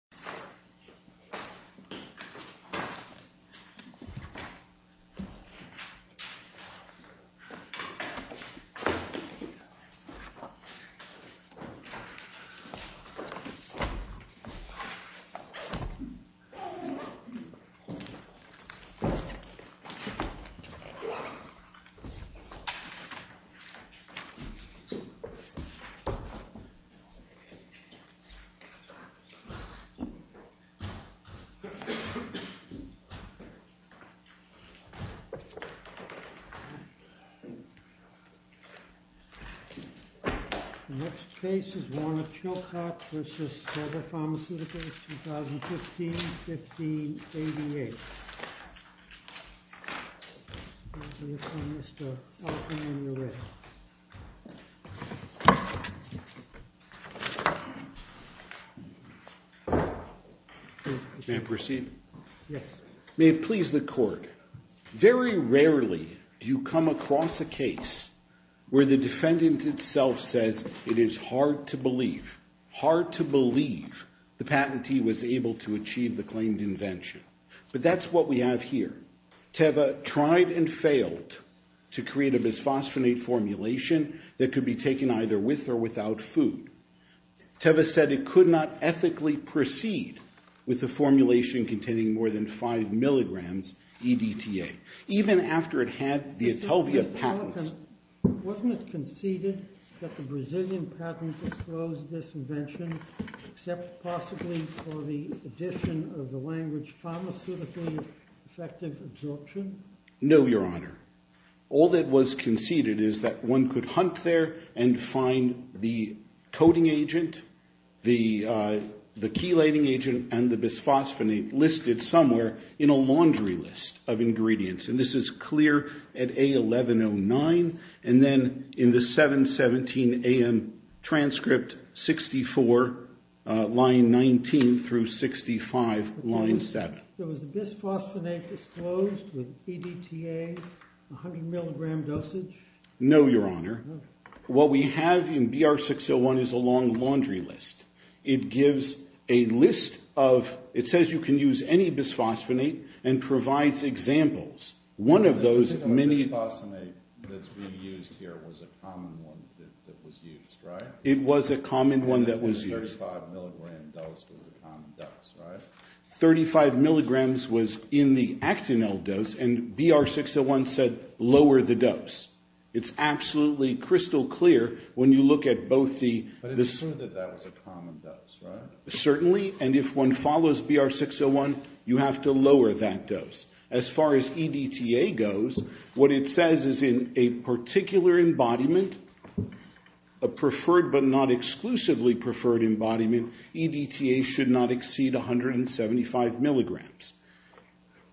Teva Pharmaceuticals USA, Inc. Teva Pharmaceuticals, Inc. Next case is Warner Chilcott v. Teva Pharmaceuticals, 2015-15-88. May it please the Court, very rarely do you come across a case where the defendant itself says it is hard to believe, hard to believe the patentee was able to achieve the claimed invention. But that's what we have here. Teva tried and failed to create a bisphosphonate formulation that could be taken either with or without food. Teva said it could not ethically proceed with the formulation containing more than 5 mg EDTA, even after it had the Atelvia Wasn't it conceded that the Brazilian patent disclosed this invention, except possibly for the addition of the language pharmaceutically effective absorption? No, Your Honor. All that was conceded is that one could hunt there and find the coding agent, the chelating agent, and the bisphosphonate listed somewhere in a laundry list of ingredients. And this is clear at A1109, and then in the 717AM transcript, 64, line 19 through 65, line 7. Was the bisphosphonate disclosed with EDTA, 100 mg dosage? No, Your Honor. What we have in BR 601 is a long laundry list. It gives a list of... it says you can use any bisphosphonate and provides examples. One of those many... The bisphosphonate that's being used here was a common one that was used, right? It was a common one that was used. And 35 mg dose was a common dose, right? 35 mg was in the Actinel dose, and BR 601 said, lower the dose. It's absolutely crystal clear when you look at both the... Certainly, and if one follows BR 601, you have to lower that dose. As far as EDTA goes, what it says is in a particular embodiment, a preferred but not exclusively preferred embodiment, EDTA should not exceed 175 mg.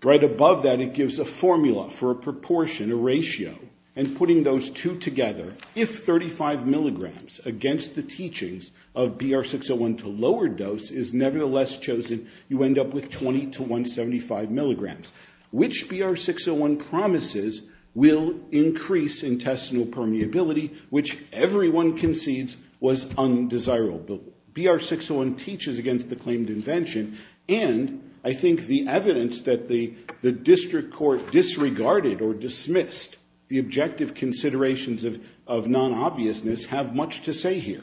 Right above that, it gives a formula for a proportion, a ratio. And putting those two together, if 35 mg against the teachings of BR 601 to lower dose is nevertheless chosen, you end up with 20 to 175 mg. Which BR 601 promises will increase intestinal permeability, which everyone concedes was undesirable. BR 601 teaches against the claimed invention, and I think the evidence that the district court disregarded or dismissed the objective considerations of non-obviousness have much to say here.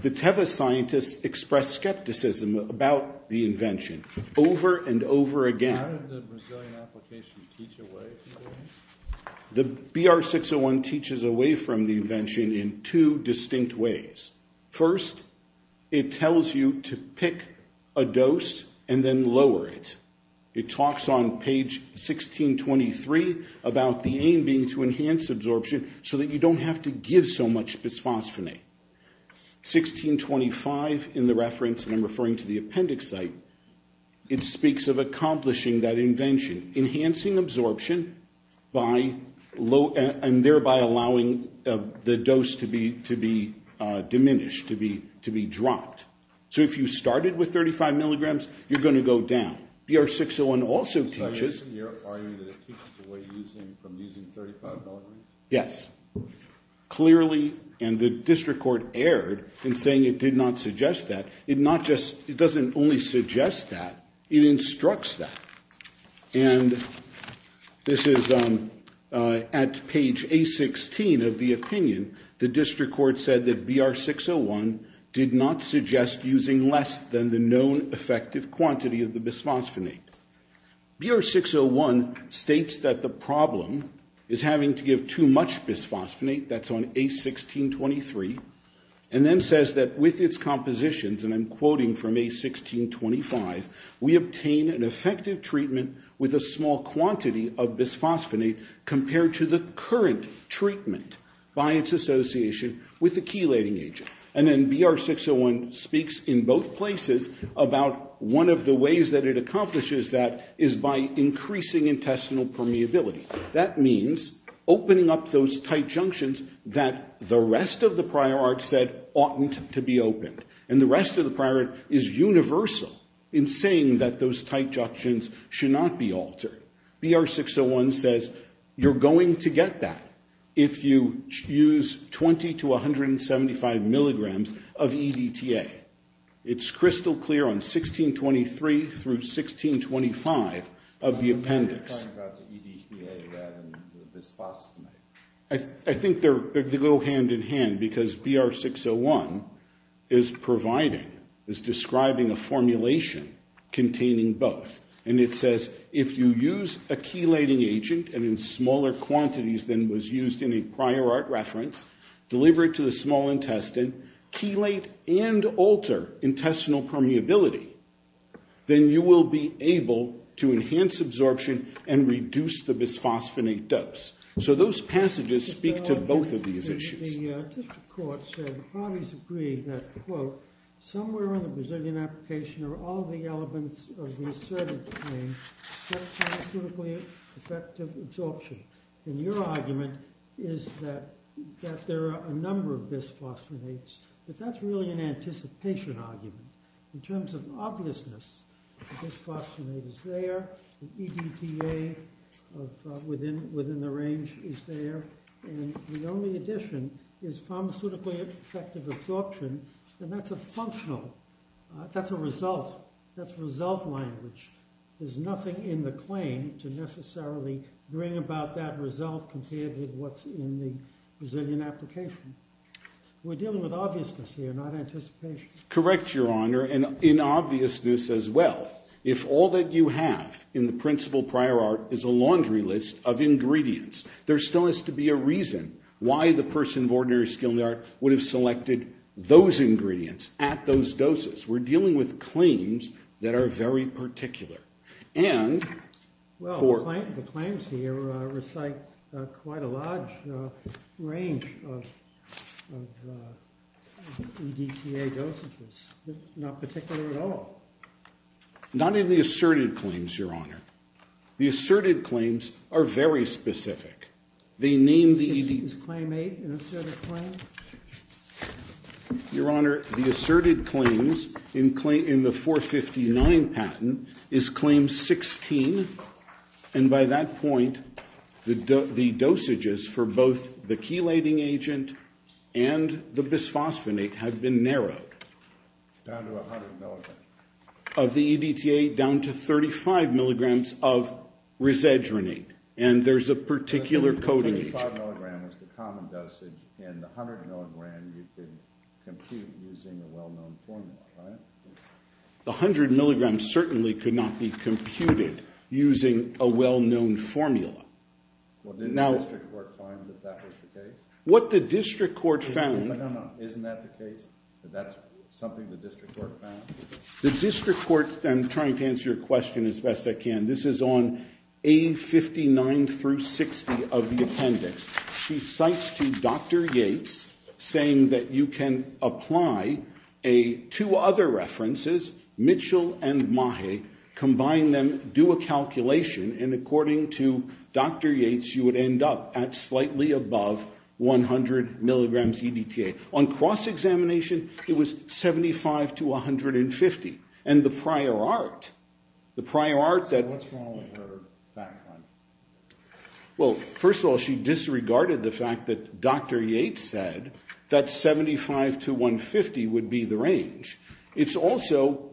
The TEVA scientists expressed skepticism about the invention over and over again. How did the Brazilian application teach away to them? The BR 601 teaches away from the invention in two distinct ways. First, it tells you to pick a dose and then lower it. It talks on page 1623 about the aim being to enhance absorption so that you don't have to give so much bisphosphonate. 1625 in the reference, and I'm referring to the appendix site, it speaks of accomplishing that invention. Enhancing absorption and thereby allowing the dose to be diminished, to be dropped. So if you started with 35 mg, you're going to go down. BR 601 also teaches- So you're arguing that it teaches away from using 35 mg? Yes. Clearly, and the district court erred in saying it did not suggest that. It doesn't only suggest that. It instructs that. And this is at page A16 of the opinion. The district court said that BR 601 did not suggest using less than the known effective quantity of the bisphosphonate. BR 601 states that the problem is having to give too much bisphosphonate. That's on A1623. And then says that with its compositions, and I'm quoting from A1625, we obtain an effective treatment with a small quantity of bisphosphonate compared to the current treatment by its association with the chelating agent. And then BR 601 speaks in both places about one of the ways that it accomplishes that is by increasing intestinal permeability. That means opening up those tight junctions that the rest of the prior art said oughtn't to be opened. And the rest of the prior art is universal in saying that those tight junctions should not be altered. BR 601 says you're going to get that if you use 20 to 175 mg of EDTA. It's crystal clear on A1623 through A1625 of the appendix. I think they go hand in hand because BR 601 is providing, is describing a formulation containing both. And it says if you use a chelating agent and in smaller quantities than was used in a prior art reference, deliver it to the small intestine, chelate and alter intestinal permeability, then you will be able to enhance absorption and reduce the bisphosphonate dose. So those passages speak to both of these issues. The district court said the parties agree that, quote, somewhere in the Brazilian application are all the elements of the assertive claim, except for the clinically effective absorption. And your argument is that there are a number of bisphosphonates, but that's really an anticipation argument. In terms of obviousness, bisphosphonate is there, EDTA within the range is there, and the only addition is pharmaceutically effective absorption, and that's a functional, that's a result, that's result language. There's nothing in the claim to necessarily bring about that result compared with what's in the Brazilian application. We're dealing with obviousness here, not anticipation. Correct, Your Honor, and in obviousness as well. If all that you have in the principal prior art is a laundry list of ingredients, there still has to be a reason why the person of ordinary skill in the art would have selected those ingredients at those doses. We're dealing with claims that are very particular. Well, the claims here recite quite a large range of EDTA dosages. They're not particular at all. Not in the assertive claims, Your Honor. The assertive claims are very specific. They name the EDTA. Is claim eight an assertive claim? Your Honor, the assertive claims in the 459 patent is claim 16, and by that point the dosages for both the chelating agent and the bisphosphonate have been narrowed. Down to 100 milligrams. Of the EDTA down to 35 milligrams of risedronate, and there's a particular coding agent. 35 milligrams is the common dosage, and the 100 milligrams you can compute using a well-known formula, right? The 100 milligrams certainly could not be computed using a well-known formula. Well, didn't the district court find that that was the case? What the district court found— No, no, no, isn't that the case, that that's something the district court found? The district court—I'm trying to answer your question as best I can. This is on A59 through 60 of the appendix. She cites to Dr. Yates, saying that you can apply two other references, Mitchell and Mahe, combine them, do a calculation, and according to Dr. Yates, you would end up at slightly above 100 milligrams EDTA. On cross-examination, it was 75 to 150. And the prior art, the prior art that— What's wrong with her background? Well, first of all, she disregarded the fact that Dr. Yates said that 75 to 150 would be the range. It's also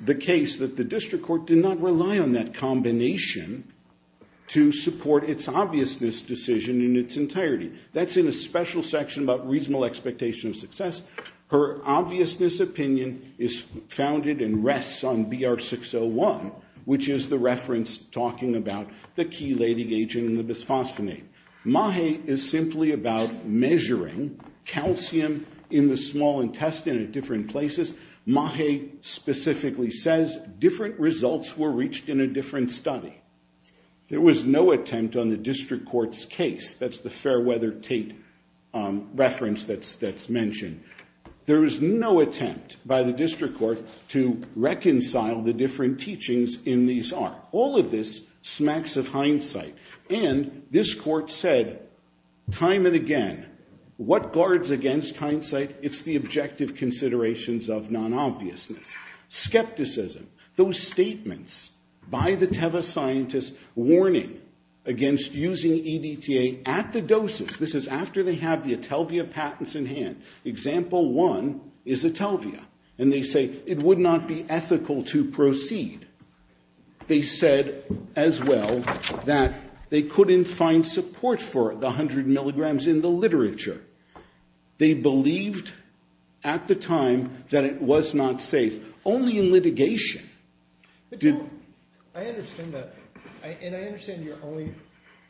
the case that the district court did not rely on that combination to support its obviousness decision in its entirety. That's in a special section about reasonable expectation of success. Her obviousness opinion is founded and rests on BR 601, which is the reference talking about the chelating agent and the bisphosphonate. Mahe is simply about measuring calcium in the small intestine at different places. Mahe specifically says different results were reached in a different study. There was no attempt on the district court's case. That's the Fairweather-Tate reference that's mentioned. There was no attempt by the district court to reconcile the different teachings in these art. All of this smacks of hindsight. And this court said, time and again, what guards against hindsight? It's the objective considerations of non-obviousness. Skepticism. Those statements by the Teva scientists warning against using EDTA at the doses. This is after they have the Atelvia patents in hand. Example one is Atelvia. And they say it would not be ethical to proceed. They said, as well, that they couldn't find support for the 100 milligrams in the literature. They believed, at the time, that it was not safe. Only in litigation. But, John, I understand that. And I understand you're only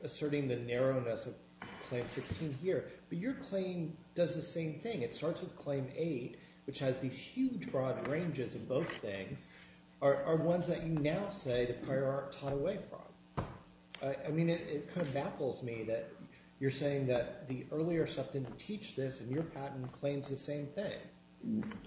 asserting the narrowness of Claim 16 here. But your claim does the same thing. It starts with Claim 8, which has these huge, broad ranges of both things, are ones that you now say the prior art taught away from. I mean, it kind of baffles me that you're saying that the earlier stuff didn't teach this. And your patent claims the same thing.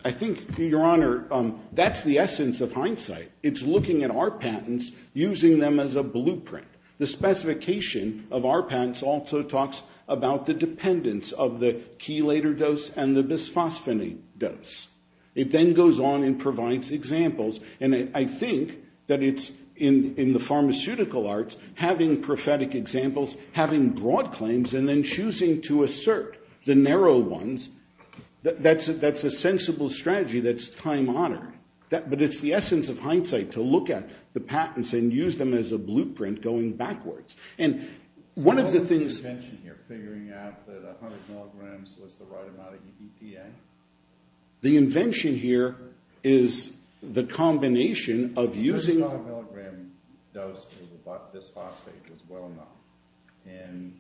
I think, Your Honor, that's the essence of hindsight. It's looking at our patents, using them as a blueprint. The specification of our patents also talks about the dependence of the chelator dose and the bisphosphonate dose. It then goes on and provides examples. And I think that it's, in the pharmaceutical arts, having prophetic examples, having broad claims, and then choosing to assert the narrow ones. That's a sensible strategy that's time-honored. But it's the essence of hindsight to look at the patents and use them as a blueprint going backwards. And one of the things— So what was the invention here, figuring out that 100 milligrams was the right amount of EPA? The invention here is the combination of using— The 35-milligram dose of bisphosphate was well-known. And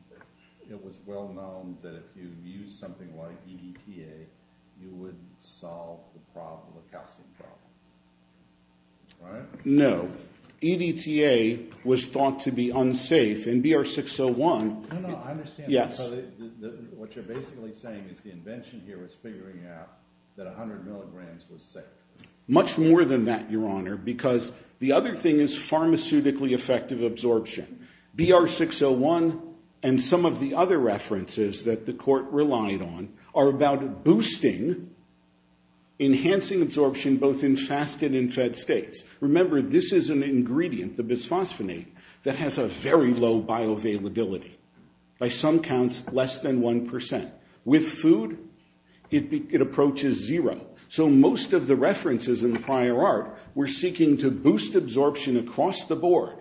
it was well-known that if you used something like EDTA, you would solve the calcium problem. Right? No. EDTA was thought to be unsafe. In BR-601— No, no, I understand. Yes. What you're basically saying is the invention here was figuring out that 100 milligrams was safe. Much more than that, Your Honor, because the other thing is pharmaceutically effective absorption. BR-601 and some of the other references that the court relied on are about boosting, enhancing absorption both in fasted and fed states. Remember, this is an ingredient, the bisphosphonate, that has a very low bioavailability. By some counts, less than 1%. With food, it approaches zero. So most of the references in the prior art were seeking to boost absorption across the board.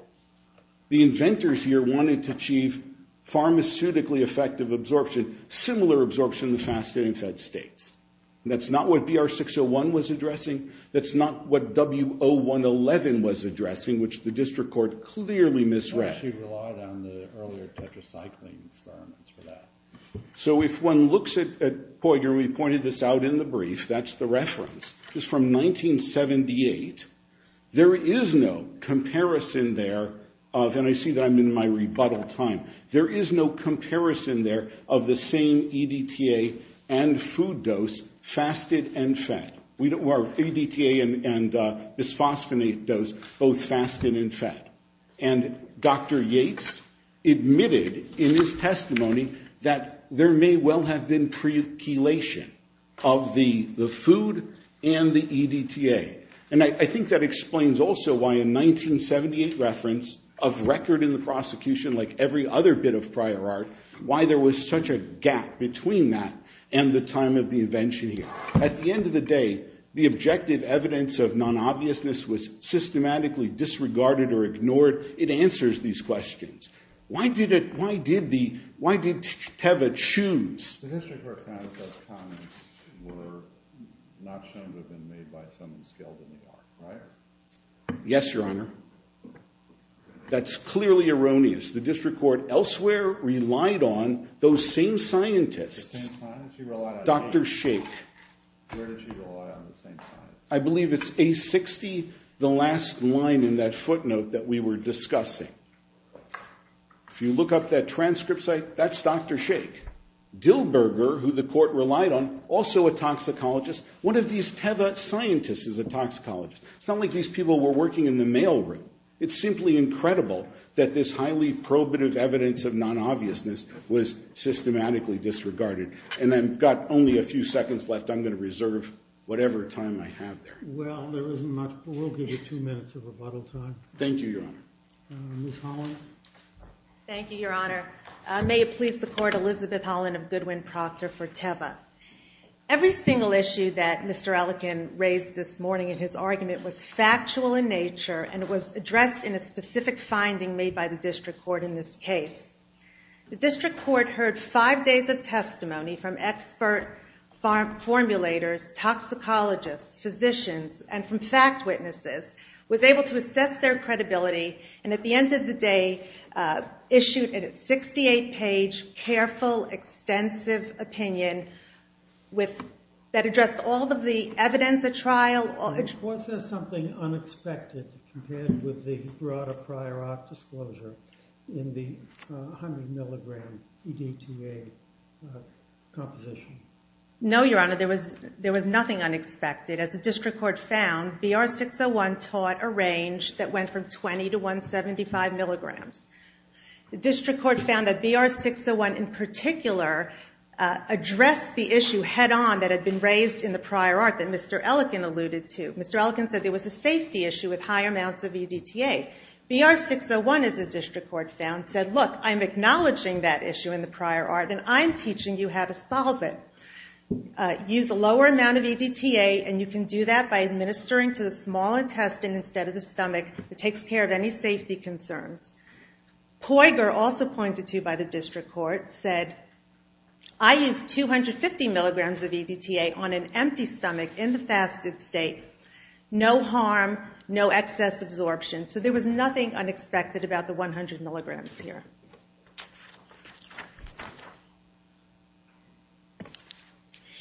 The inventors here wanted to achieve pharmaceutically effective absorption, similar absorption in fasted and fed states. And that's not what BR-601 was addressing. That's not what W-0111 was addressing, which the district court clearly misread. They actually relied on the earlier tetracycline experiments for that. So if one looks at—boy, Your Honor, we pointed this out in the brief. That's the reference. This is from 1978. There is no comparison there of—and I see that I'm in my rebuttal time. There is no comparison there of the same EDTA and food dose, fasted and fed. Our EDTA and bisphosphonate dose, both fasted and fed. And Dr. Yates admitted in his testimony that there may well have been pre-chelation of the food and the EDTA. And I think that explains also why a 1978 reference of record in the prosecution, like every other bit of prior art, why there was such a gap between that and the time of the invention here. At the end of the day, the objective evidence of non-obviousness was systematically disregarded or ignored. It answers these questions. Why did it—why did the—why did Teva choose? The district court found that those comments were not shown to have been made by someone skilled in the art, right? Yes, Your Honor. That's clearly erroneous. The district court elsewhere relied on those same scientists. Dr. Shake. I believe it's A60, the last line in that footnote that we were discussing. If you look up that transcript site, that's Dr. Shake. Dilberger, who the court relied on, also a toxicologist. One of these Teva scientists is a toxicologist. It's not like these people were working in the mail room. It's simply incredible that this highly probative evidence of non-obviousness was systematically disregarded. And I've got only a few seconds left. I'm going to reserve whatever time I have there. Well, there isn't much, but we'll give you two minutes of rebuttal time. Thank you, Your Honor. Ms. Holland. Thank you, Your Honor. May it please the court, Elizabeth Holland of Goodwin Proctor for Teva. Every single issue that Mr. Ellican raised this morning in his argument was factual in nature and was addressed in a specific finding made by the district court in this case. The district court heard five days of testimony from expert formulators, toxicologists, physicians, and from fact witnesses, was able to assess their credibility, and at the end of the day issued a 68-page careful, extensive opinion that addressed all of the evidence at trial. Was there something unexpected compared with the broader prior art disclosure in the 100 milligram EDTA composition? No, Your Honor. There was nothing unexpected. As the district court found, BR-601 taught a range that went from 20 to 175 milligrams. The district court found that BR-601 in particular addressed the issue head on that had been raised in the prior art that Mr. Ellican alluded to. Mr. Ellican said there was a safety issue with high amounts of EDTA. BR-601, as the district court found, said, Look, I'm acknowledging that issue in the prior art, and I'm teaching you how to solve it. Use a lower amount of EDTA, and you can do that by administering to the small intestine instead of the stomach. It takes care of any safety concerns. Poiger, also pointed to by the district court, said, I used 250 milligrams of EDTA on an empty stomach in the fasted state. No harm, no excess absorption. So there was nothing unexpected about the 100 milligrams here.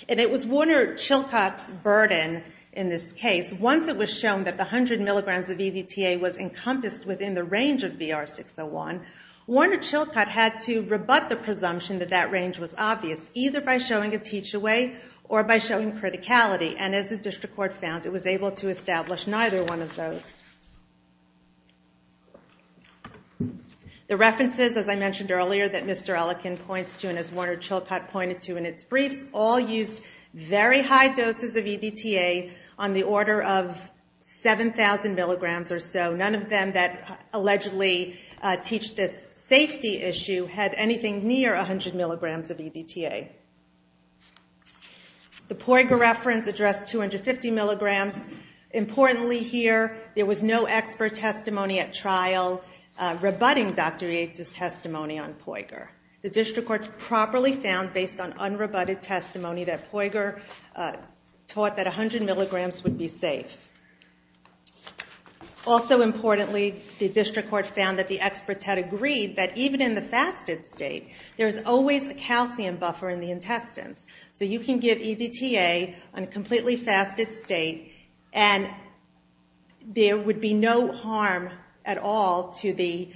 And it was Warner-Chilcott's burden in this case. Once it was shown that the 100 milligrams of EDTA was encompassed within the range of BR-601, Warner-Chilcott had to rebut the presumption that that range was obvious, either by showing a teach-away or by showing criticality. And as the district court found, it was able to establish neither one of those. The references, as I mentioned earlier, that Mr. Ellikin points to, and as Warner-Chilcott pointed to in its briefs, all used very high doses of EDTA on the order of 7,000 milligrams or so. None of them that allegedly teach this safety issue had anything near 100 milligrams of EDTA. The Poiger reference addressed 250 milligrams. Importantly here, there was no expert testimony at trial rebutting Dr. Yates' testimony on Poiger. The district court properly found, based on unrebutted testimony, that Poiger taught that 100 milligrams would be safe. Also importantly, the district court found that the experts had agreed that even in the fasted state, there's always a calcium buffer in the intestines. So you can give EDTA on a completely fasted state, and there would be no harm at all to the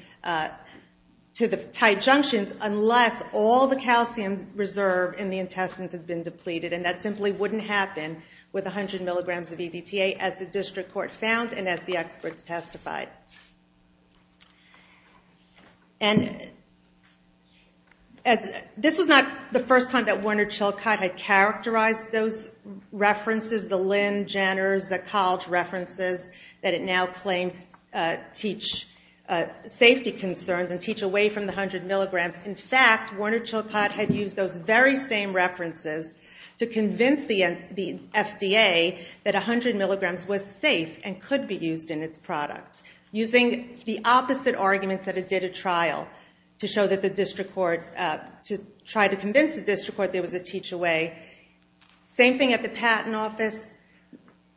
tight junctions unless all the calcium reserve in the intestines had been depleted. And that simply wouldn't happen with 100 milligrams of EDTA, as the district court found and as the experts testified. And this was not the first time that Warner-Chilcott had characterized those references, the Lynn, Jenner, Zekalch references that it now claims teach safety concerns and teach away from the 100 milligrams. In fact, Warner-Chilcott had used those very same references to convince the FDA that 100 milligrams was safe and could be used in its product. Using the opposite arguments at a data trial to show that the district court, to try to convince the district court there was a teach away. Same thing at the patent office.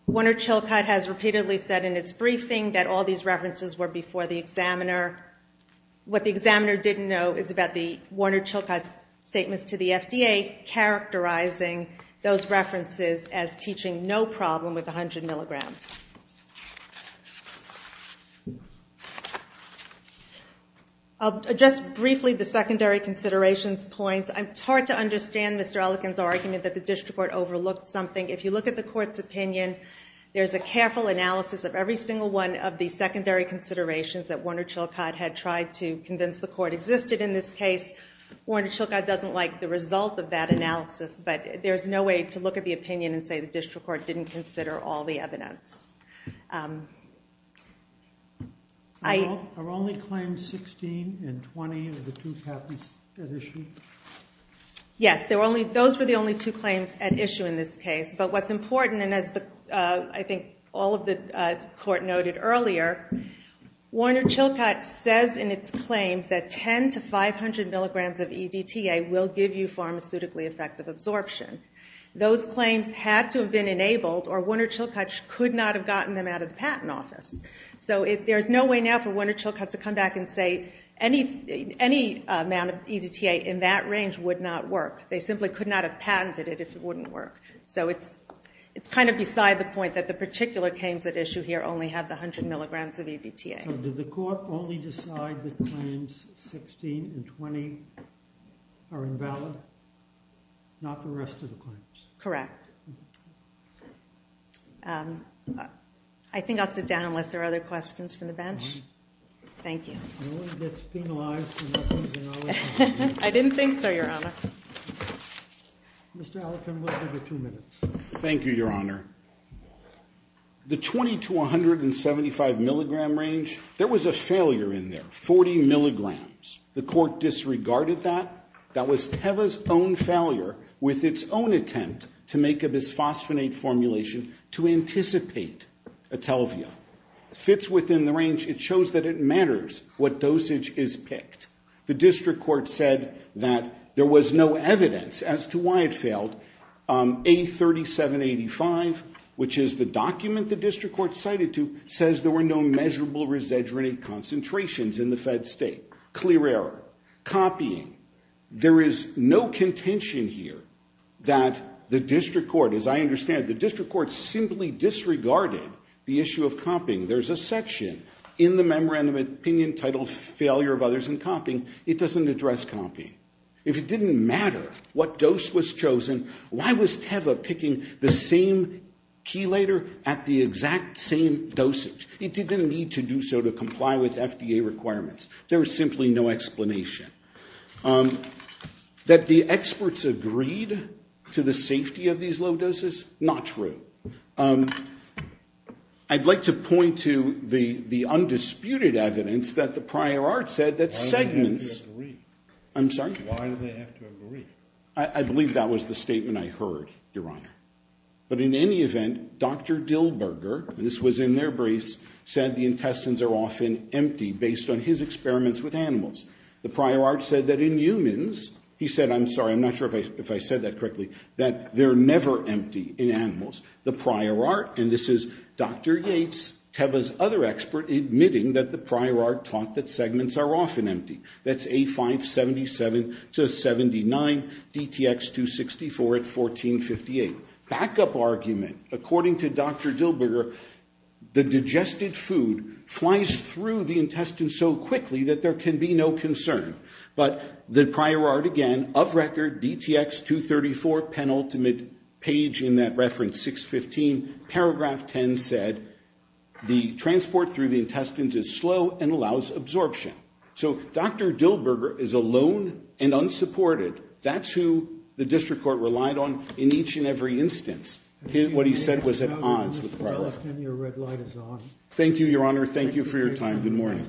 Warner-Chilcott has repeatedly said in its briefing that all these references were before the examiner. What the examiner didn't know is about the Warner-Chilcott statements to the FDA characterizing those references as teaching no problem with 100 milligrams. I'll address briefly the secondary considerations points. It's hard to understand Mr. Ellicott's argument that the district court overlooked something. If you look at the court's opinion, there's a careful analysis of every single one of the secondary considerations that Warner-Chilcott had tried to convince the court existed in this case. Warner-Chilcott doesn't like the result of that analysis, but there's no way to look at the opinion and say the district court didn't consider all the evidence. Are only claims 16 and 20 of the two patents at issue? Yes, those were the only two claims at issue in this case. But what's important, and as I think all of the court noted earlier, Warner-Chilcott says in its claims that 10 to 500 milligrams of EDTA will give you pharmaceutically effective absorption. Those claims had to have been enabled, or Warner-Chilcott could not have gotten them out of the patent office. So there's no way now for Warner-Chilcott to come back and say any amount of EDTA in that range would not work. They simply could not have patented it if it wouldn't work. So it's kind of beside the point that the particular claims at issue here only have the 100 milligrams of EDTA. So did the court only decide that claims 16 and 20 are invalid? Not the rest of the claims? Correct. I think I'll sit down unless there are other questions from the bench. Thank you. I didn't think so, Your Honor. Mr. Allerton, we'll give you two minutes. Thank you, Your Honor. The 20 to 175 milligram range, there was a failure in there, 40 milligrams. The court disregarded that. That was PEVA's own failure with its own attempt to make a bisphosphonate formulation to anticipate atelvia. It fits within the range. It shows that it matters what dosage is picked. The district court said that there was no evidence as to why it failed. A3785, which is the document the district court cited to, says there were no measurable resedrinate concentrations in the fed state. Clear error. Copying. There is no contention here that the district court, as I understand it, the district court simply disregarded the issue of copying. There's a section in the memorandum of opinion titled Failure of Others in Copying. It doesn't address copying. If it didn't matter what dose was chosen, why was PEVA picking the same chelator at the exact same dosage? It didn't need to do so to comply with FDA requirements. There was simply no explanation. That the experts agreed to the safety of these low doses? Not true. I'd like to point to the undisputed evidence that the prior art said that segments Why do they have to agree? I believe that was the statement I heard, Your Honor. But in any event, Dr. Dillberger, and this was in their briefs, said the intestines are often empty based on his experiments with animals. The prior art said that in humans, he said, I'm sorry, I'm not sure if I said that correctly, that they're never empty in animals. The prior art, and this is Dr. Yates, PEVA's other expert, admitting that the prior art taught that segments are often empty. That's A577-79, DTX-264 at 1458. Backup argument. According to Dr. Dillberger, the digested food flies through the intestines so quickly that there can be no concern. But the prior art again, of record, DTX-234, penultimate page in that reference, 615, paragraph 10 said, the transport through the intestines is slow and allows absorption. So Dr. Dillberger is alone and unsupported. That's who the district court relied on in each and every instance. What he said was at odds with the prior art. Thank you, Your Honor. Thank you for your time. Good morning.